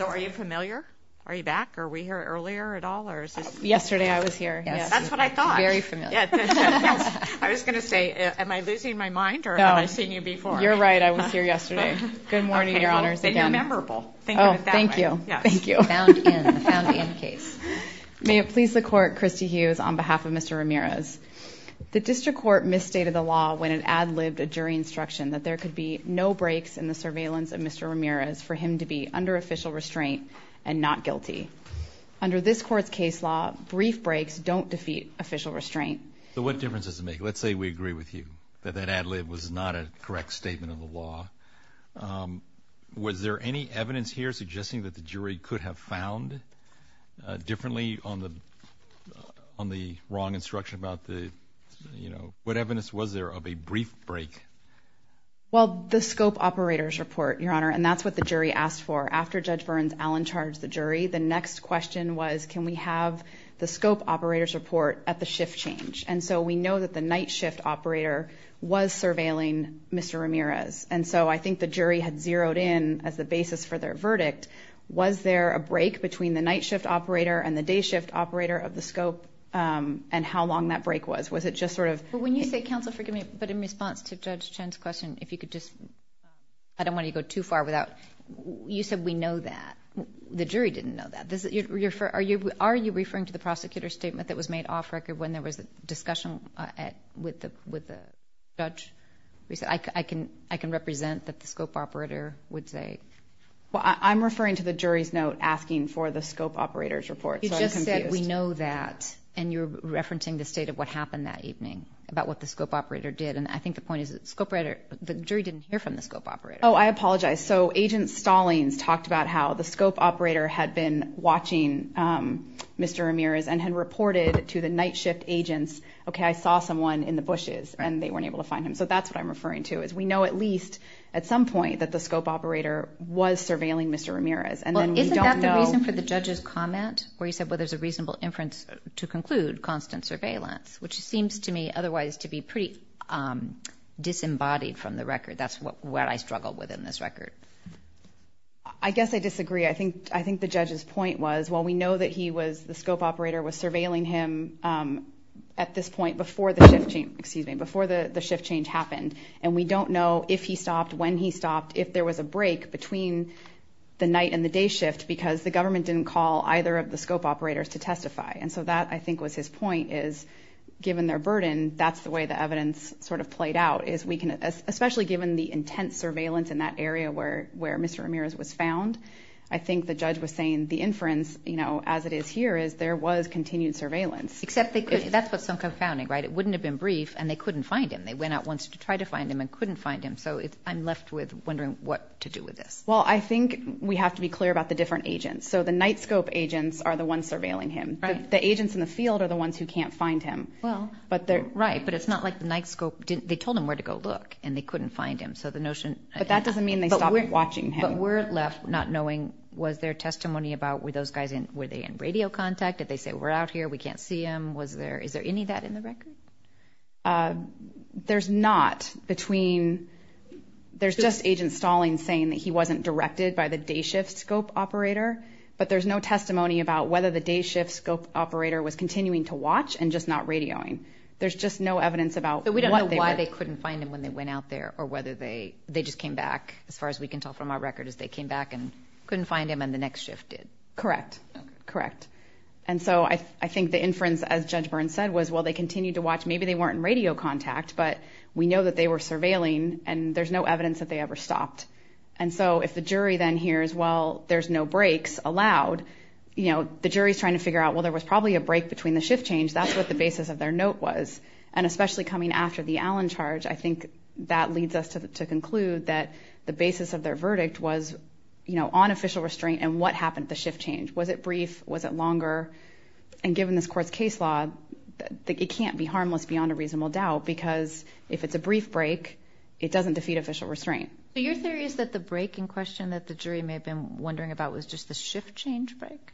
Are you familiar? Are you back? Are we here earlier at all? Yesterday I was here. Yes. That's what I thought. Very familiar. I was going to say, am I losing my mind or have I seen you before? You're right. I was here yesterday. Good morning, Your Honors. And you're memorable. Think of it that way. Thank you. Found in. Found in case. May it please the Court, Christy Hughes on behalf of Mr. Ramirez. The District Court misstated the law when it ad-libbed a jury instruction that there could be no breaks in the surveillance of Mr. Ramirez for him to be under official restraint and not guilty. Under this Court's case law, brief breaks don't defeat official restraint. So what difference does it make? Let's say we agree with you that that ad-lib was not a correct statement of the law. Was there any evidence here suggesting that the jury could have found differently on the wrong instruction about the, you know, what evidence was there of a brief break? Well, the scope operator's report, Your Honor, and that's what the jury asked for. After Judge Burns Allen charged the jury, the next question was, can we have the scope operator's report at the shift change? And so we know that the night shift operator was surveilling Mr. Ramirez. And so I think the jury had zeroed in as the basis for their verdict. Was there a break between the night shift operator and the day shift operator of the scope and how long that break was? Was it just sort of— Well, when you say, counsel, forgive me, but in response to Judge Chen's question, if you could just—I don't want to go too far without—you said we know that. The jury didn't know that. Are you referring to the prosecutor's statement that was made off record when there was a discussion with the judge? I can represent that the scope operator would say— Well, I'm referring to the jury's note asking for the scope operator's report. You just said we know that, and you're referencing the state of what happened that evening about what the scope operator did. And I think the point is that the jury didn't hear from the scope operator. Oh, I apologize. So Agent Stallings talked about how the scope operator had been watching Mr. Ramirez and had reported to the night shift agents, okay, I saw someone in the bushes, and they weren't able to find him. So that's what I'm referring to is we know at least at some point that the scope operator was surveilling Mr. Ramirez. Well, isn't that the reason for the judge's comment where he said, well, there's a reasonable inference to conclude, constant surveillance, which seems to me otherwise to be pretty disembodied from the record. That's what I struggled with in this record. I guess I disagree. I think the judge's point was, well, we know that he was— the scope operator was surveilling him at this point before the shift change happened, and we don't know if he stopped, when he stopped, if there was a break between the night and the day shift because the government didn't call either of the scope operators to testify. And so that, I think, was his point is, given their burden, that's the way the evidence sort of played out is we can— especially given the intense surveillance in that area where Mr. Ramirez was found, I think the judge was saying the inference, you know, as it is here, is there was continued surveillance. Except they couldn't—that's what's so confounding, right? It wouldn't have been brief, and they couldn't find him. They went out once to try to find him and couldn't find him. So I'm left with wondering what to do with this. Well, I think we have to be clear about the different agents. So the night scope agents are the ones surveilling him. The agents in the field are the ones who can't find him. Right, but it's not like the night scope— they told him where to go look, and they couldn't find him. So the notion— But that doesn't mean they stopped watching him. But we're left not knowing was there testimony about were those guys in— were they in radio contact? Did they say, we're out here, we can't see him? Was there—is there any of that in the record? There's not between— there's just Agent Stalling saying that he wasn't directed by the day shift scope operator, but there's no testimony about whether the day shift scope operator was continuing to watch and just not radioing. There's just no evidence about what they were— But we don't know why they couldn't find him when they went out there or whether they just came back, as far as we can tell from our record, is they came back and couldn't find him and the next shift did. Correct, correct. And so I think the inference, as Judge Byrne said, was, well, they continued to watch. Maybe they weren't in radio contact, but we know that they were surveilling, and there's no evidence that they ever stopped. And so if the jury then hears, well, there's no breaks allowed, the jury's trying to figure out, well, there was probably a break between the shift change. That's what the basis of their note was. And especially coming after the Allen charge, I think that leads us to conclude that the basis of their verdict was on official restraint and what happened at the shift change. Was it brief? Was it longer? And given this court's case law, it can't be harmless beyond a reasonable doubt because if it's a brief break, it doesn't defeat official restraint. So your theory is that the break in question that the jury may have been wondering about was just the shift change break?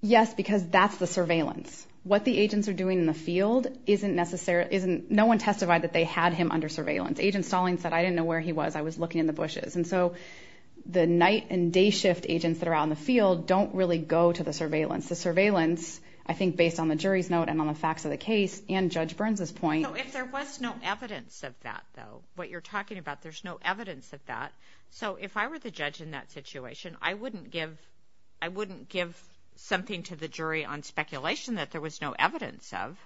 Yes, because that's the surveillance. What the agents are doing in the field isn't necessarily— No one testified that they had him under surveillance. Agent Stallings said, I didn't know where he was. I was looking in the bushes. And so the night and day shift agents that are out in the field don't really go to the surveillance. The surveillance, I think, based on the jury's note and on the facts of the case and Judge Burns's point— If there was no evidence of that, though, what you're talking about, there's no evidence of that. So if I were the judge in that situation, I wouldn't give something to the jury on speculation that there was no evidence of.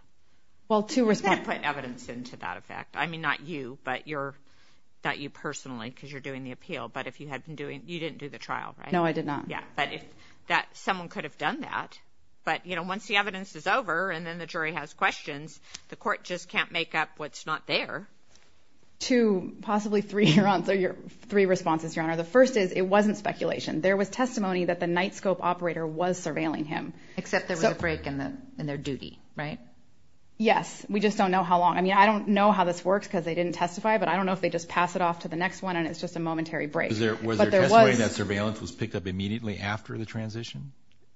Well, to respond— You can't put evidence into that effect. I mean, not you, but you're—not you personally because you're doing the appeal. But if you had been doing—you didn't do the trial, right? No, I did not. Yeah, but someone could have done that. But, you know, once the evidence is over and then the jury has questions, the court just can't make up what's not there. Two, possibly three responses, Your Honor. The first is it wasn't speculation. There was testimony that the night scope operator was surveilling him. Except there was a break in their duty, right? Yes. We just don't know how long. I mean, I don't know how this works because they didn't testify, but I don't know if they just pass it off to the next one and it's just a momentary break. Was there testimony that surveillance was picked up immediately after the transition,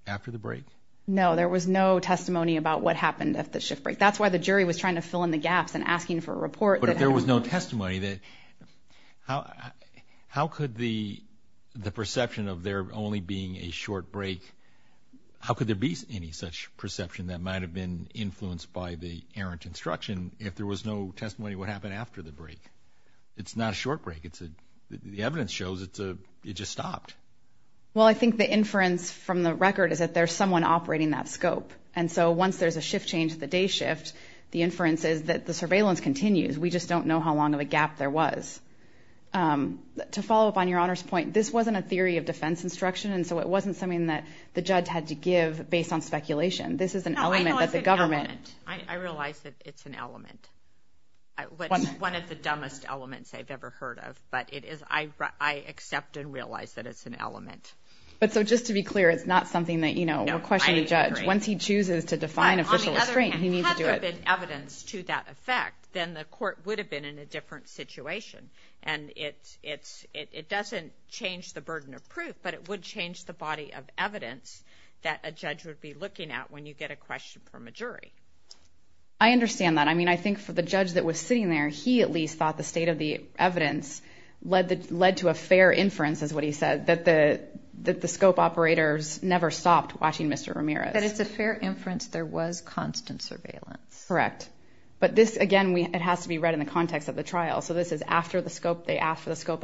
after the break? No, there was no testimony about what happened at the shift break. That's why the jury was trying to fill in the gaps and asking for a report. But if there was no testimony, how could the perception of there only being a short break— how could there be any such perception that might have been influenced by the errant instruction if there was no testimony of what happened after the break? It's not a short break. The evidence shows it just stopped. Well, I think the inference from the record is that there's someone operating that scope. And so once there's a shift change, the day shift, the inference is that the surveillance continues. We just don't know how long of a gap there was. To follow up on Your Honor's point, this wasn't a theory of defense instruction, this is an element that the government— No, I know it's an element. I realize that it's an element. One of the dumbest elements I've ever heard of, but I accept and realize that it's an element. But so just to be clear, it's not something that, you know, we'll question the judge. No, I agree. Once he chooses to define official restraint, he needs to do it. But on the other hand, had there been evidence to that effect, then the court would have been in a different situation. And it doesn't change the burden of proof, but it would change the body of evidence that a judge would be looking at when you get a question from a jury. I understand that. I mean, I think for the judge that was sitting there, he at least thought the state of the evidence led to a fair inference, is what he said, that the scope operators never stopped watching Mr. Ramirez. That it's a fair inference there was constant surveillance. Correct. But this, again, it has to be read in the context of the trial. So this is after the scope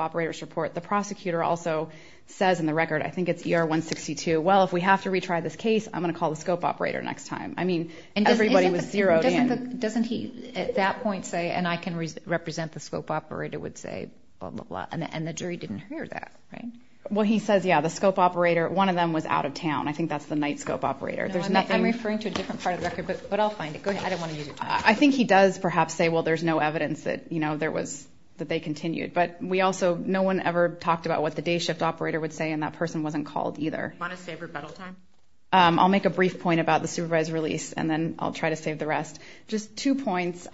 operators report. The prosecutor also says in the record, I think it's ER 162, well, if we have to retry this case, I'm going to call the scope operator next time. I mean, everybody was zeroed in. Doesn't he at that point say, and I can represent the scope operator, would say, blah, blah, blah, and the jury didn't hear that, right? Well, he says, yeah, the scope operator, one of them was out of town. I think that's the night scope operator. I'm referring to a different part of the record, but I'll find it. Go ahead. I didn't want to use your time. I think he does perhaps say, well, there's no evidence that, you know, there was, that they continued. But we also, no one ever talked about what the day shift operator would say, and that person wasn't called either. Do you want to save rebuttal time? I'll make a brief point about the supervised release, and then I'll try to save the rest. Just two points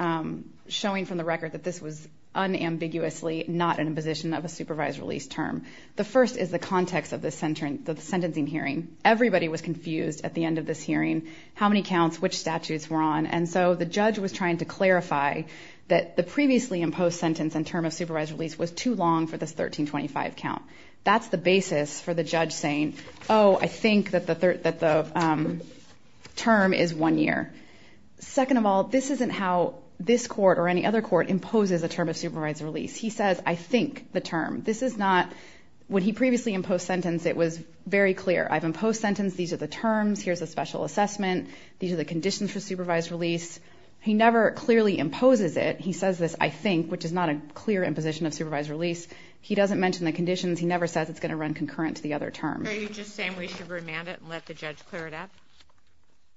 showing from the record that this was unambiguously not an imposition of a supervised release term. The first is the context of the sentencing hearing. Everybody was confused at the end of this hearing, how many counts, which statutes were on. And so the judge was trying to clarify that the previously imposed sentence and term of supervised release was too long for this 1325 count. That's the basis for the judge saying, oh, I think that the term is one year. Second of all, this isn't how this court or any other court imposes a term of supervised release. He says, I think the term. This is not, when he previously imposed sentence, it was very clear. I've imposed sentence. These are the terms. Here's a special assessment. These are the conditions for supervised release. He never clearly imposes it. He says this, I think, which is not a clear imposition of supervised release. He doesn't mention the conditions. He never says it's going to run concurrent to the other term. Are you just saying we should remand it and let the judge clear it up?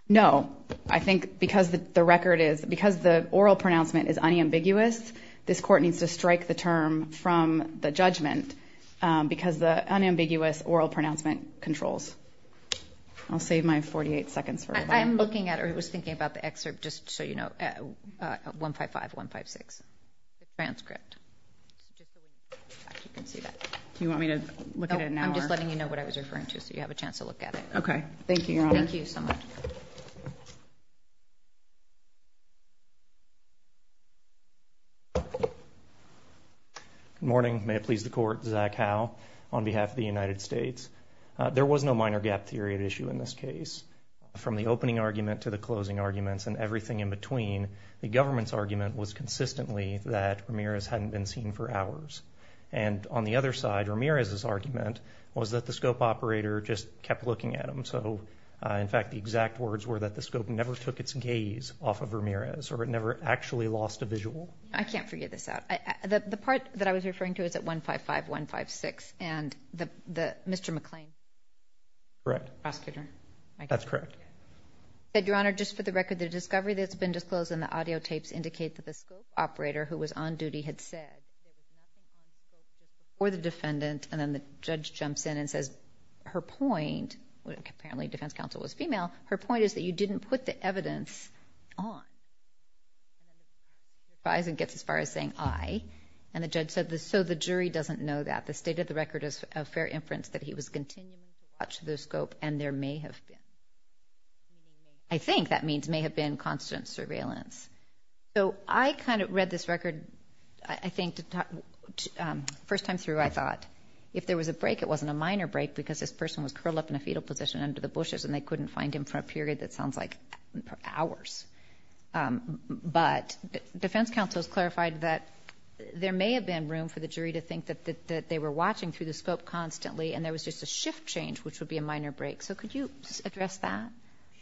No. I think because the record is, because the oral pronouncement is unambiguous, this court needs to strike the term from the judgment because the unambiguous oral pronouncement controls. I'll save my 48 seconds for rebuttal. I'm looking at or was thinking about the excerpt just so you know, 155, 156, the transcript. Do you want me to look at it now? I'm just letting you know what I was referring to so you have a chance to look at it. Okay. Thank you, Your Honor. Thank you so much. Good morning. May it please the Court. Zach Howe on behalf of the United States. There was no minor gap period issue in this case. From the opening argument to the closing arguments and everything in between, the government's argument was consistently that Ramirez hadn't been seen for hours. And on the other side, Ramirez's argument was that the scope operator just kept looking at him. So, in fact, the exact words were that the scope never took its gaze off of Ramirez or it never actually lost a visual. I can't figure this out. The part that I was referring to is at 155, 156 and Mr. McClain. Correct. Prosecutor? That's correct. Your Honor, just for the record, the discovery that's been disclosed in the audio tapes indicate that the scope operator who was on duty had said, or the defendant, and then the judge jumps in and says, her point, apparently defense counsel was female, her point is that you didn't put the evidence on. He gets as far as saying, aye. And the judge said, so the jury doesn't know that. The state of the record is of fair inference that he was continually in touch with the scope and there may have been. I think that means may have been constant surveillance. So I kind of read this record, I think, first time through, I thought. If there was a break, it wasn't a minor break because this person was curled up in a fetal position under the bushes and they couldn't find him for a period that sounds like hours. But defense counsel has clarified that there may have been room for the jury to think that they were watching through the scope constantly and there was just a shift change, which would be a minor break. So could you address that?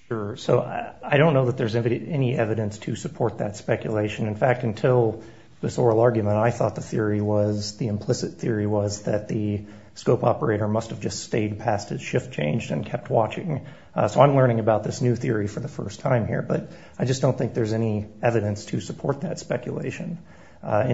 Sure. So I don't know that there's any evidence to support that speculation. In fact, until this oral argument, I thought the theory was, the implicit theory was that the scope operator must have just stayed past his shift change and kept watching. So I'm learning about this new theory for the first time here, but I just don't think there's any evidence to support that speculation. The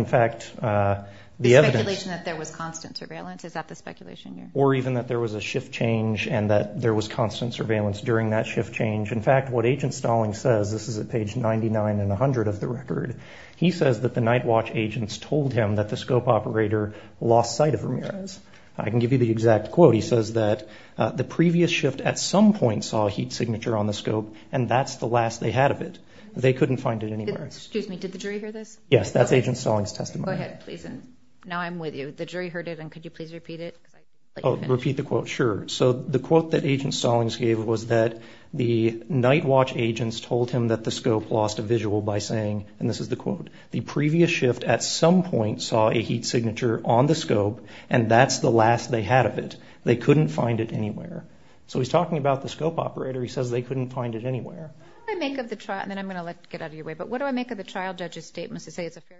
speculation that there was constant surveillance, is that the speculation here? Or even that there was a shift change and that there was constant surveillance during that shift change. In fact, what Agent Stallings says, this is at page 99 and 100 of the record, he says that the night watch agents told him that the scope operator lost sight of Ramirez. I can give you the exact quote. He says that the previous shift at some point saw a heat signature on the scope and that's the last they had of it. They couldn't find it anywhere. Excuse me, did the jury hear this? Yes, that's Agent Stallings' testimony. Go ahead, please. Now I'm with you. The jury heard it and could you please repeat it? Repeat the quote, sure. So the quote that Agent Stallings gave was that the night watch agents told him that the scope lost a visual by saying, and this is the quote, the previous shift at some point saw a heat signature on the scope and that's the last they had of it. They couldn't find it anywhere. So he's talking about the scope operator. He says they couldn't find it anywhere. What do I make of the trial? And then I'm going to get out of your way, but what do I make of the trial judge's statement to say it's a fair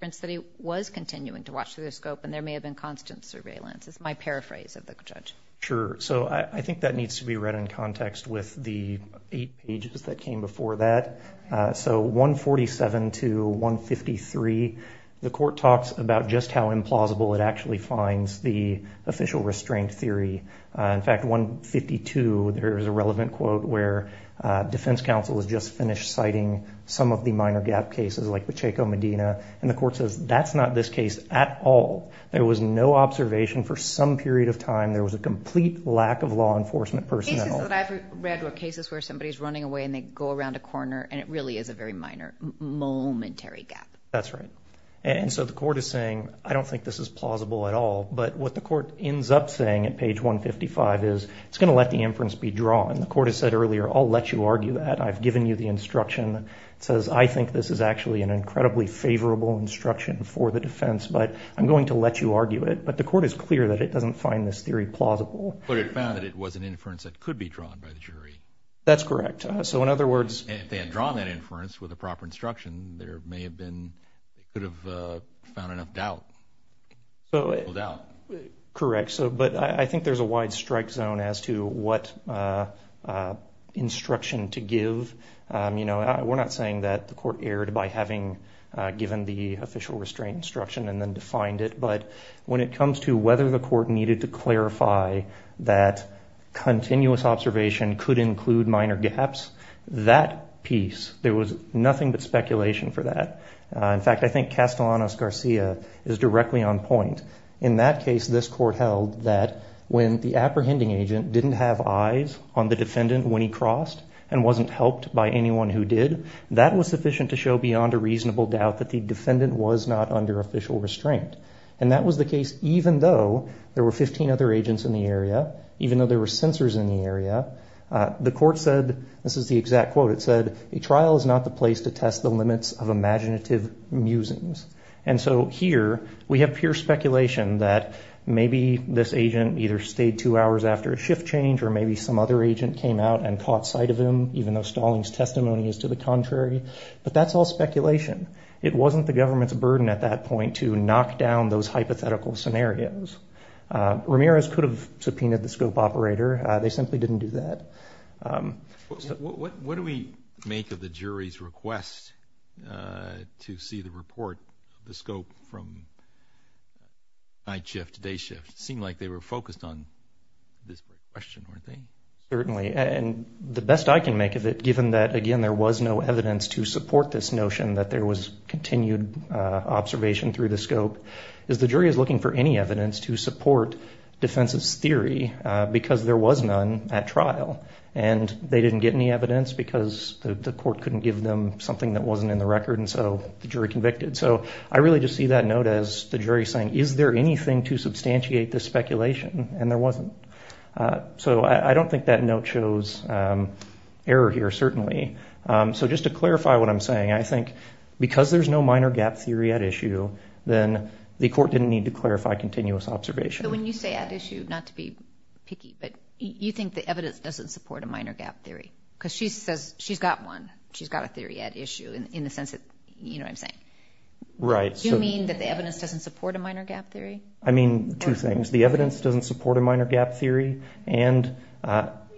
inference that he was continuing to watch through the scope and there may have been constant surveillance is my paraphrase of the judge. Sure. So I think that needs to be read in context with the eight pages that came before that. So 147 to 153, the court talks about just how implausible it actually finds the official restraint theory. In fact, 152, there is a relevant quote where defense counsel has just finished citing some of the minor gap cases like Pacheco Medina, and the court says that's not this case at all. There was no observation for some period of time. There was a complete lack of law enforcement personnel. Cases that I've read were cases where somebody's running away and they go around a corner and it really is a very minor momentary gap. That's right. And so the court is saying, I don't think this is plausible at all, but what the court ends up saying at page 155 is it's going to let the inference be drawn. The court has said earlier, I'll let you argue that. I've given you the instruction. It says I think this is actually an incredibly favorable instruction for the defense, but I'm going to let you argue it. But the court is clear that it doesn't find this theory plausible. But it found that it was an inference that could be drawn by the jury. That's correct. So in other words— If they had drawn that inference with the proper instruction, there may have been—could have found enough doubt. Correct. But I think there's a wide strike zone as to what instruction to give. We're not saying that the court erred by having given the official restraint instruction and then defined it. But when it comes to whether the court needed to clarify that continuous observation could include minor gaps, that piece, there was nothing but speculation for that. In fact, I think Castellanos-Garcia is directly on point. In that case, this court held that when the apprehending agent didn't have eyes on the defendant when he crossed and wasn't helped by anyone who did, that was sufficient to show beyond a reasonable doubt that the defendant was not under official restraint. And that was the case even though there were 15 other agents in the area, even though there were censors in the area. The court said—this is the exact quote. It said, A trial is not the place to test the limits of imaginative musings. And so here we have pure speculation that maybe this agent either stayed two hours after a shift change or maybe some other agent came out and caught sight of him, even though Stalling's testimony is to the contrary. But that's all speculation. It wasn't the government's burden at that point to knock down those hypothetical scenarios. Ramirez could have subpoenaed the scope operator. They simply didn't do that. What do we make of the jury's request to see the report, the scope from night shift to day shift? It seemed like they were focused on this question, weren't they? Certainly. And the best I can make of it, given that, again, there was no evidence to support this notion that there was continued observation through the scope, is the jury is looking for any evidence to support defense's theory because there was none at trial. And they didn't get any evidence because the court couldn't give them something that wasn't in the record, and so the jury convicted. So I really just see that note as the jury saying, Is there anything to substantiate this speculation? And there wasn't. So I don't think that note shows error here, certainly. So just to clarify what I'm saying, I think because there's no minor gap theory at issue, then the court didn't need to clarify continuous observation. So when you say at issue, not to be picky, but you think the evidence doesn't support a minor gap theory because she says she's got one. She's got a theory at issue in the sense that, you know what I'm saying? Right. Do you mean that the evidence doesn't support a minor gap theory? I mean two things. The evidence doesn't support a minor gap theory, and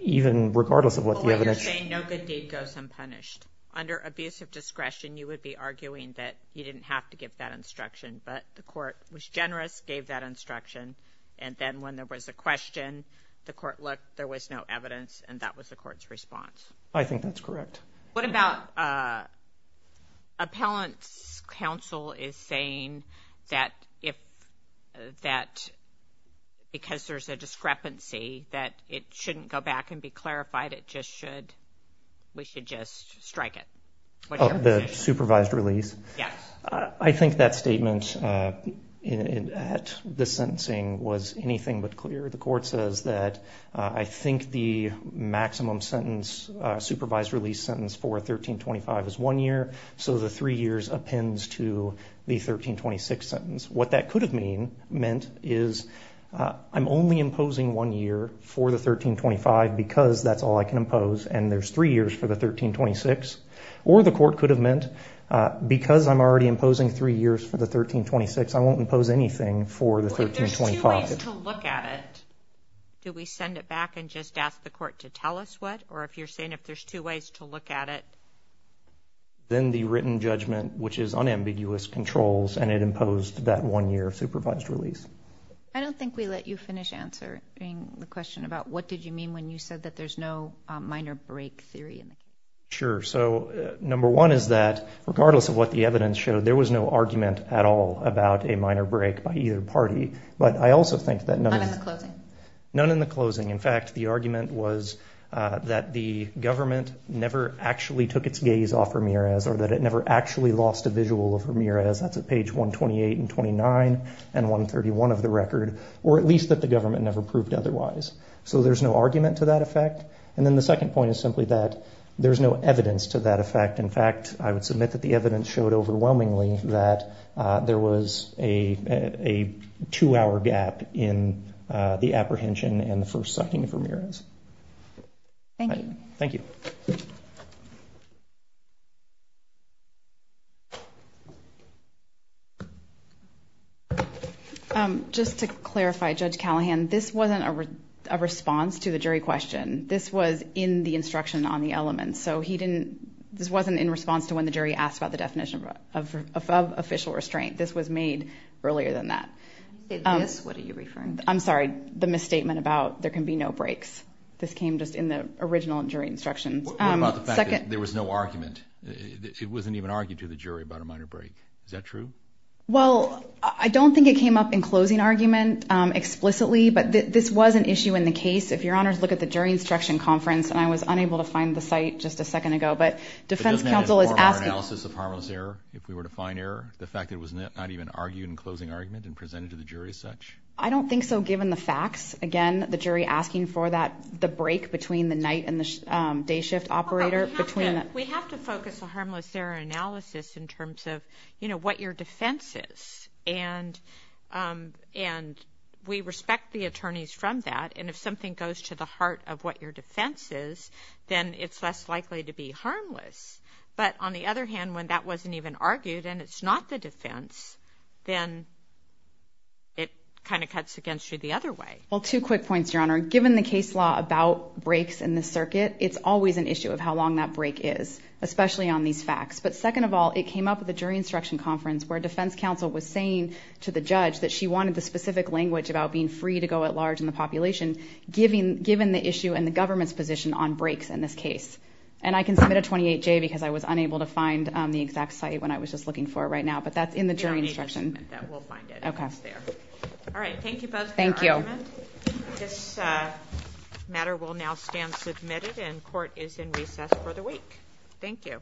even regardless of what the evidence. Well, you're saying no good deed goes unpunished. Under abuse of discretion, you would be arguing that you didn't have to give that instruction, but the court was generous, gave that instruction, and then when there was a question, the court looked, there was no evidence, and that was the court's response. I think that's correct. What about appellant's counsel is saying that because there's a discrepancy, that it shouldn't go back and be clarified. We should just strike it. The supervised release? Yes. I think that statement at the sentencing was anything but clear. The court says that I think the maximum sentence, supervised release sentence for 1325 is one year, so the three years appends to the 1326 sentence. What that could have meant is I'm only imposing one year for the 1325 because that's all I can impose, and there's three years for the 1326. Or the court could have meant because I'm already imposing three years for the 1326, I won't impose anything for the 1325. If there's two ways to look at it, do we send it back and just ask the court to tell us what? Or if you're saying if there's two ways to look at it? Then the written judgment, which is unambiguous, controls, and it imposed that one year of supervised release. I don't think we let you finish answering the question about what did you mean when you said that there's no minor break theory. Sure. So number one is that regardless of what the evidence showed, there was no argument at all about a minor break by either party. But I also think that none of the closing, in fact, the argument was that the government never actually took its gaze off Ramirez or that it never actually lost a visual of Ramirez. That's at page 128 and 29 and 131 of the record, or at least that the government never proved otherwise. So there's no argument to that effect. And then the second point is simply that there's no evidence to that effect. In fact, I would submit that the evidence showed overwhelmingly that there was a two-hour gap in the apprehension and the first sighting of Ramirez. Thank you. Thank you. Just to clarify, Judge Callahan, this wasn't a response to the jury question. This was in the instruction on the elements. So this wasn't in response to when the jury asked about the definition of official restraint. This was made earlier than that. This? What are you referring to? I'm sorry, the misstatement about there can be no breaks. This came just in the original jury instructions. What about the fact that there was no argument? It wasn't even argued to the jury about a minor break. Is that true? Well, I don't think it came up in closing argument explicitly, but this was an issue in the case. If Your Honors look at the jury instruction conference, and I was unable to find the site just a second ago, but defense counsel is asking. But doesn't that inform our analysis of harmless error if we were to find error, the fact that it was not even argued in closing argument and presented to the jury as such? I don't think so, given the facts. Again, the jury asking for the break between the night and the day shift operator. We have to focus a harmless error analysis in terms of what your defense is. And we respect the attorneys from that. And if something goes to the heart of what your defense is, then it's less likely to be harmless. But on the other hand, when that wasn't even argued and it's not the defense, then it kind of cuts against you the other way. Well, two quick points, Your Honor. Given the case law about breaks in the circuit, it's always an issue of how long that break is, especially on these facts. But second of all, it came up at the jury instruction conference where defense counsel was saying to the judge that she wanted the specific language about being free to go at large in the population, given the issue and the government's position on breaks in this case. And I can submit a 28-J because I was unable to find the exact site when I was just looking for it right now. But that's in the jury instruction. We'll find it. All right, thank you both for your argument. This matter will now stand submitted and court is in recess for the week. Thank you. All rise.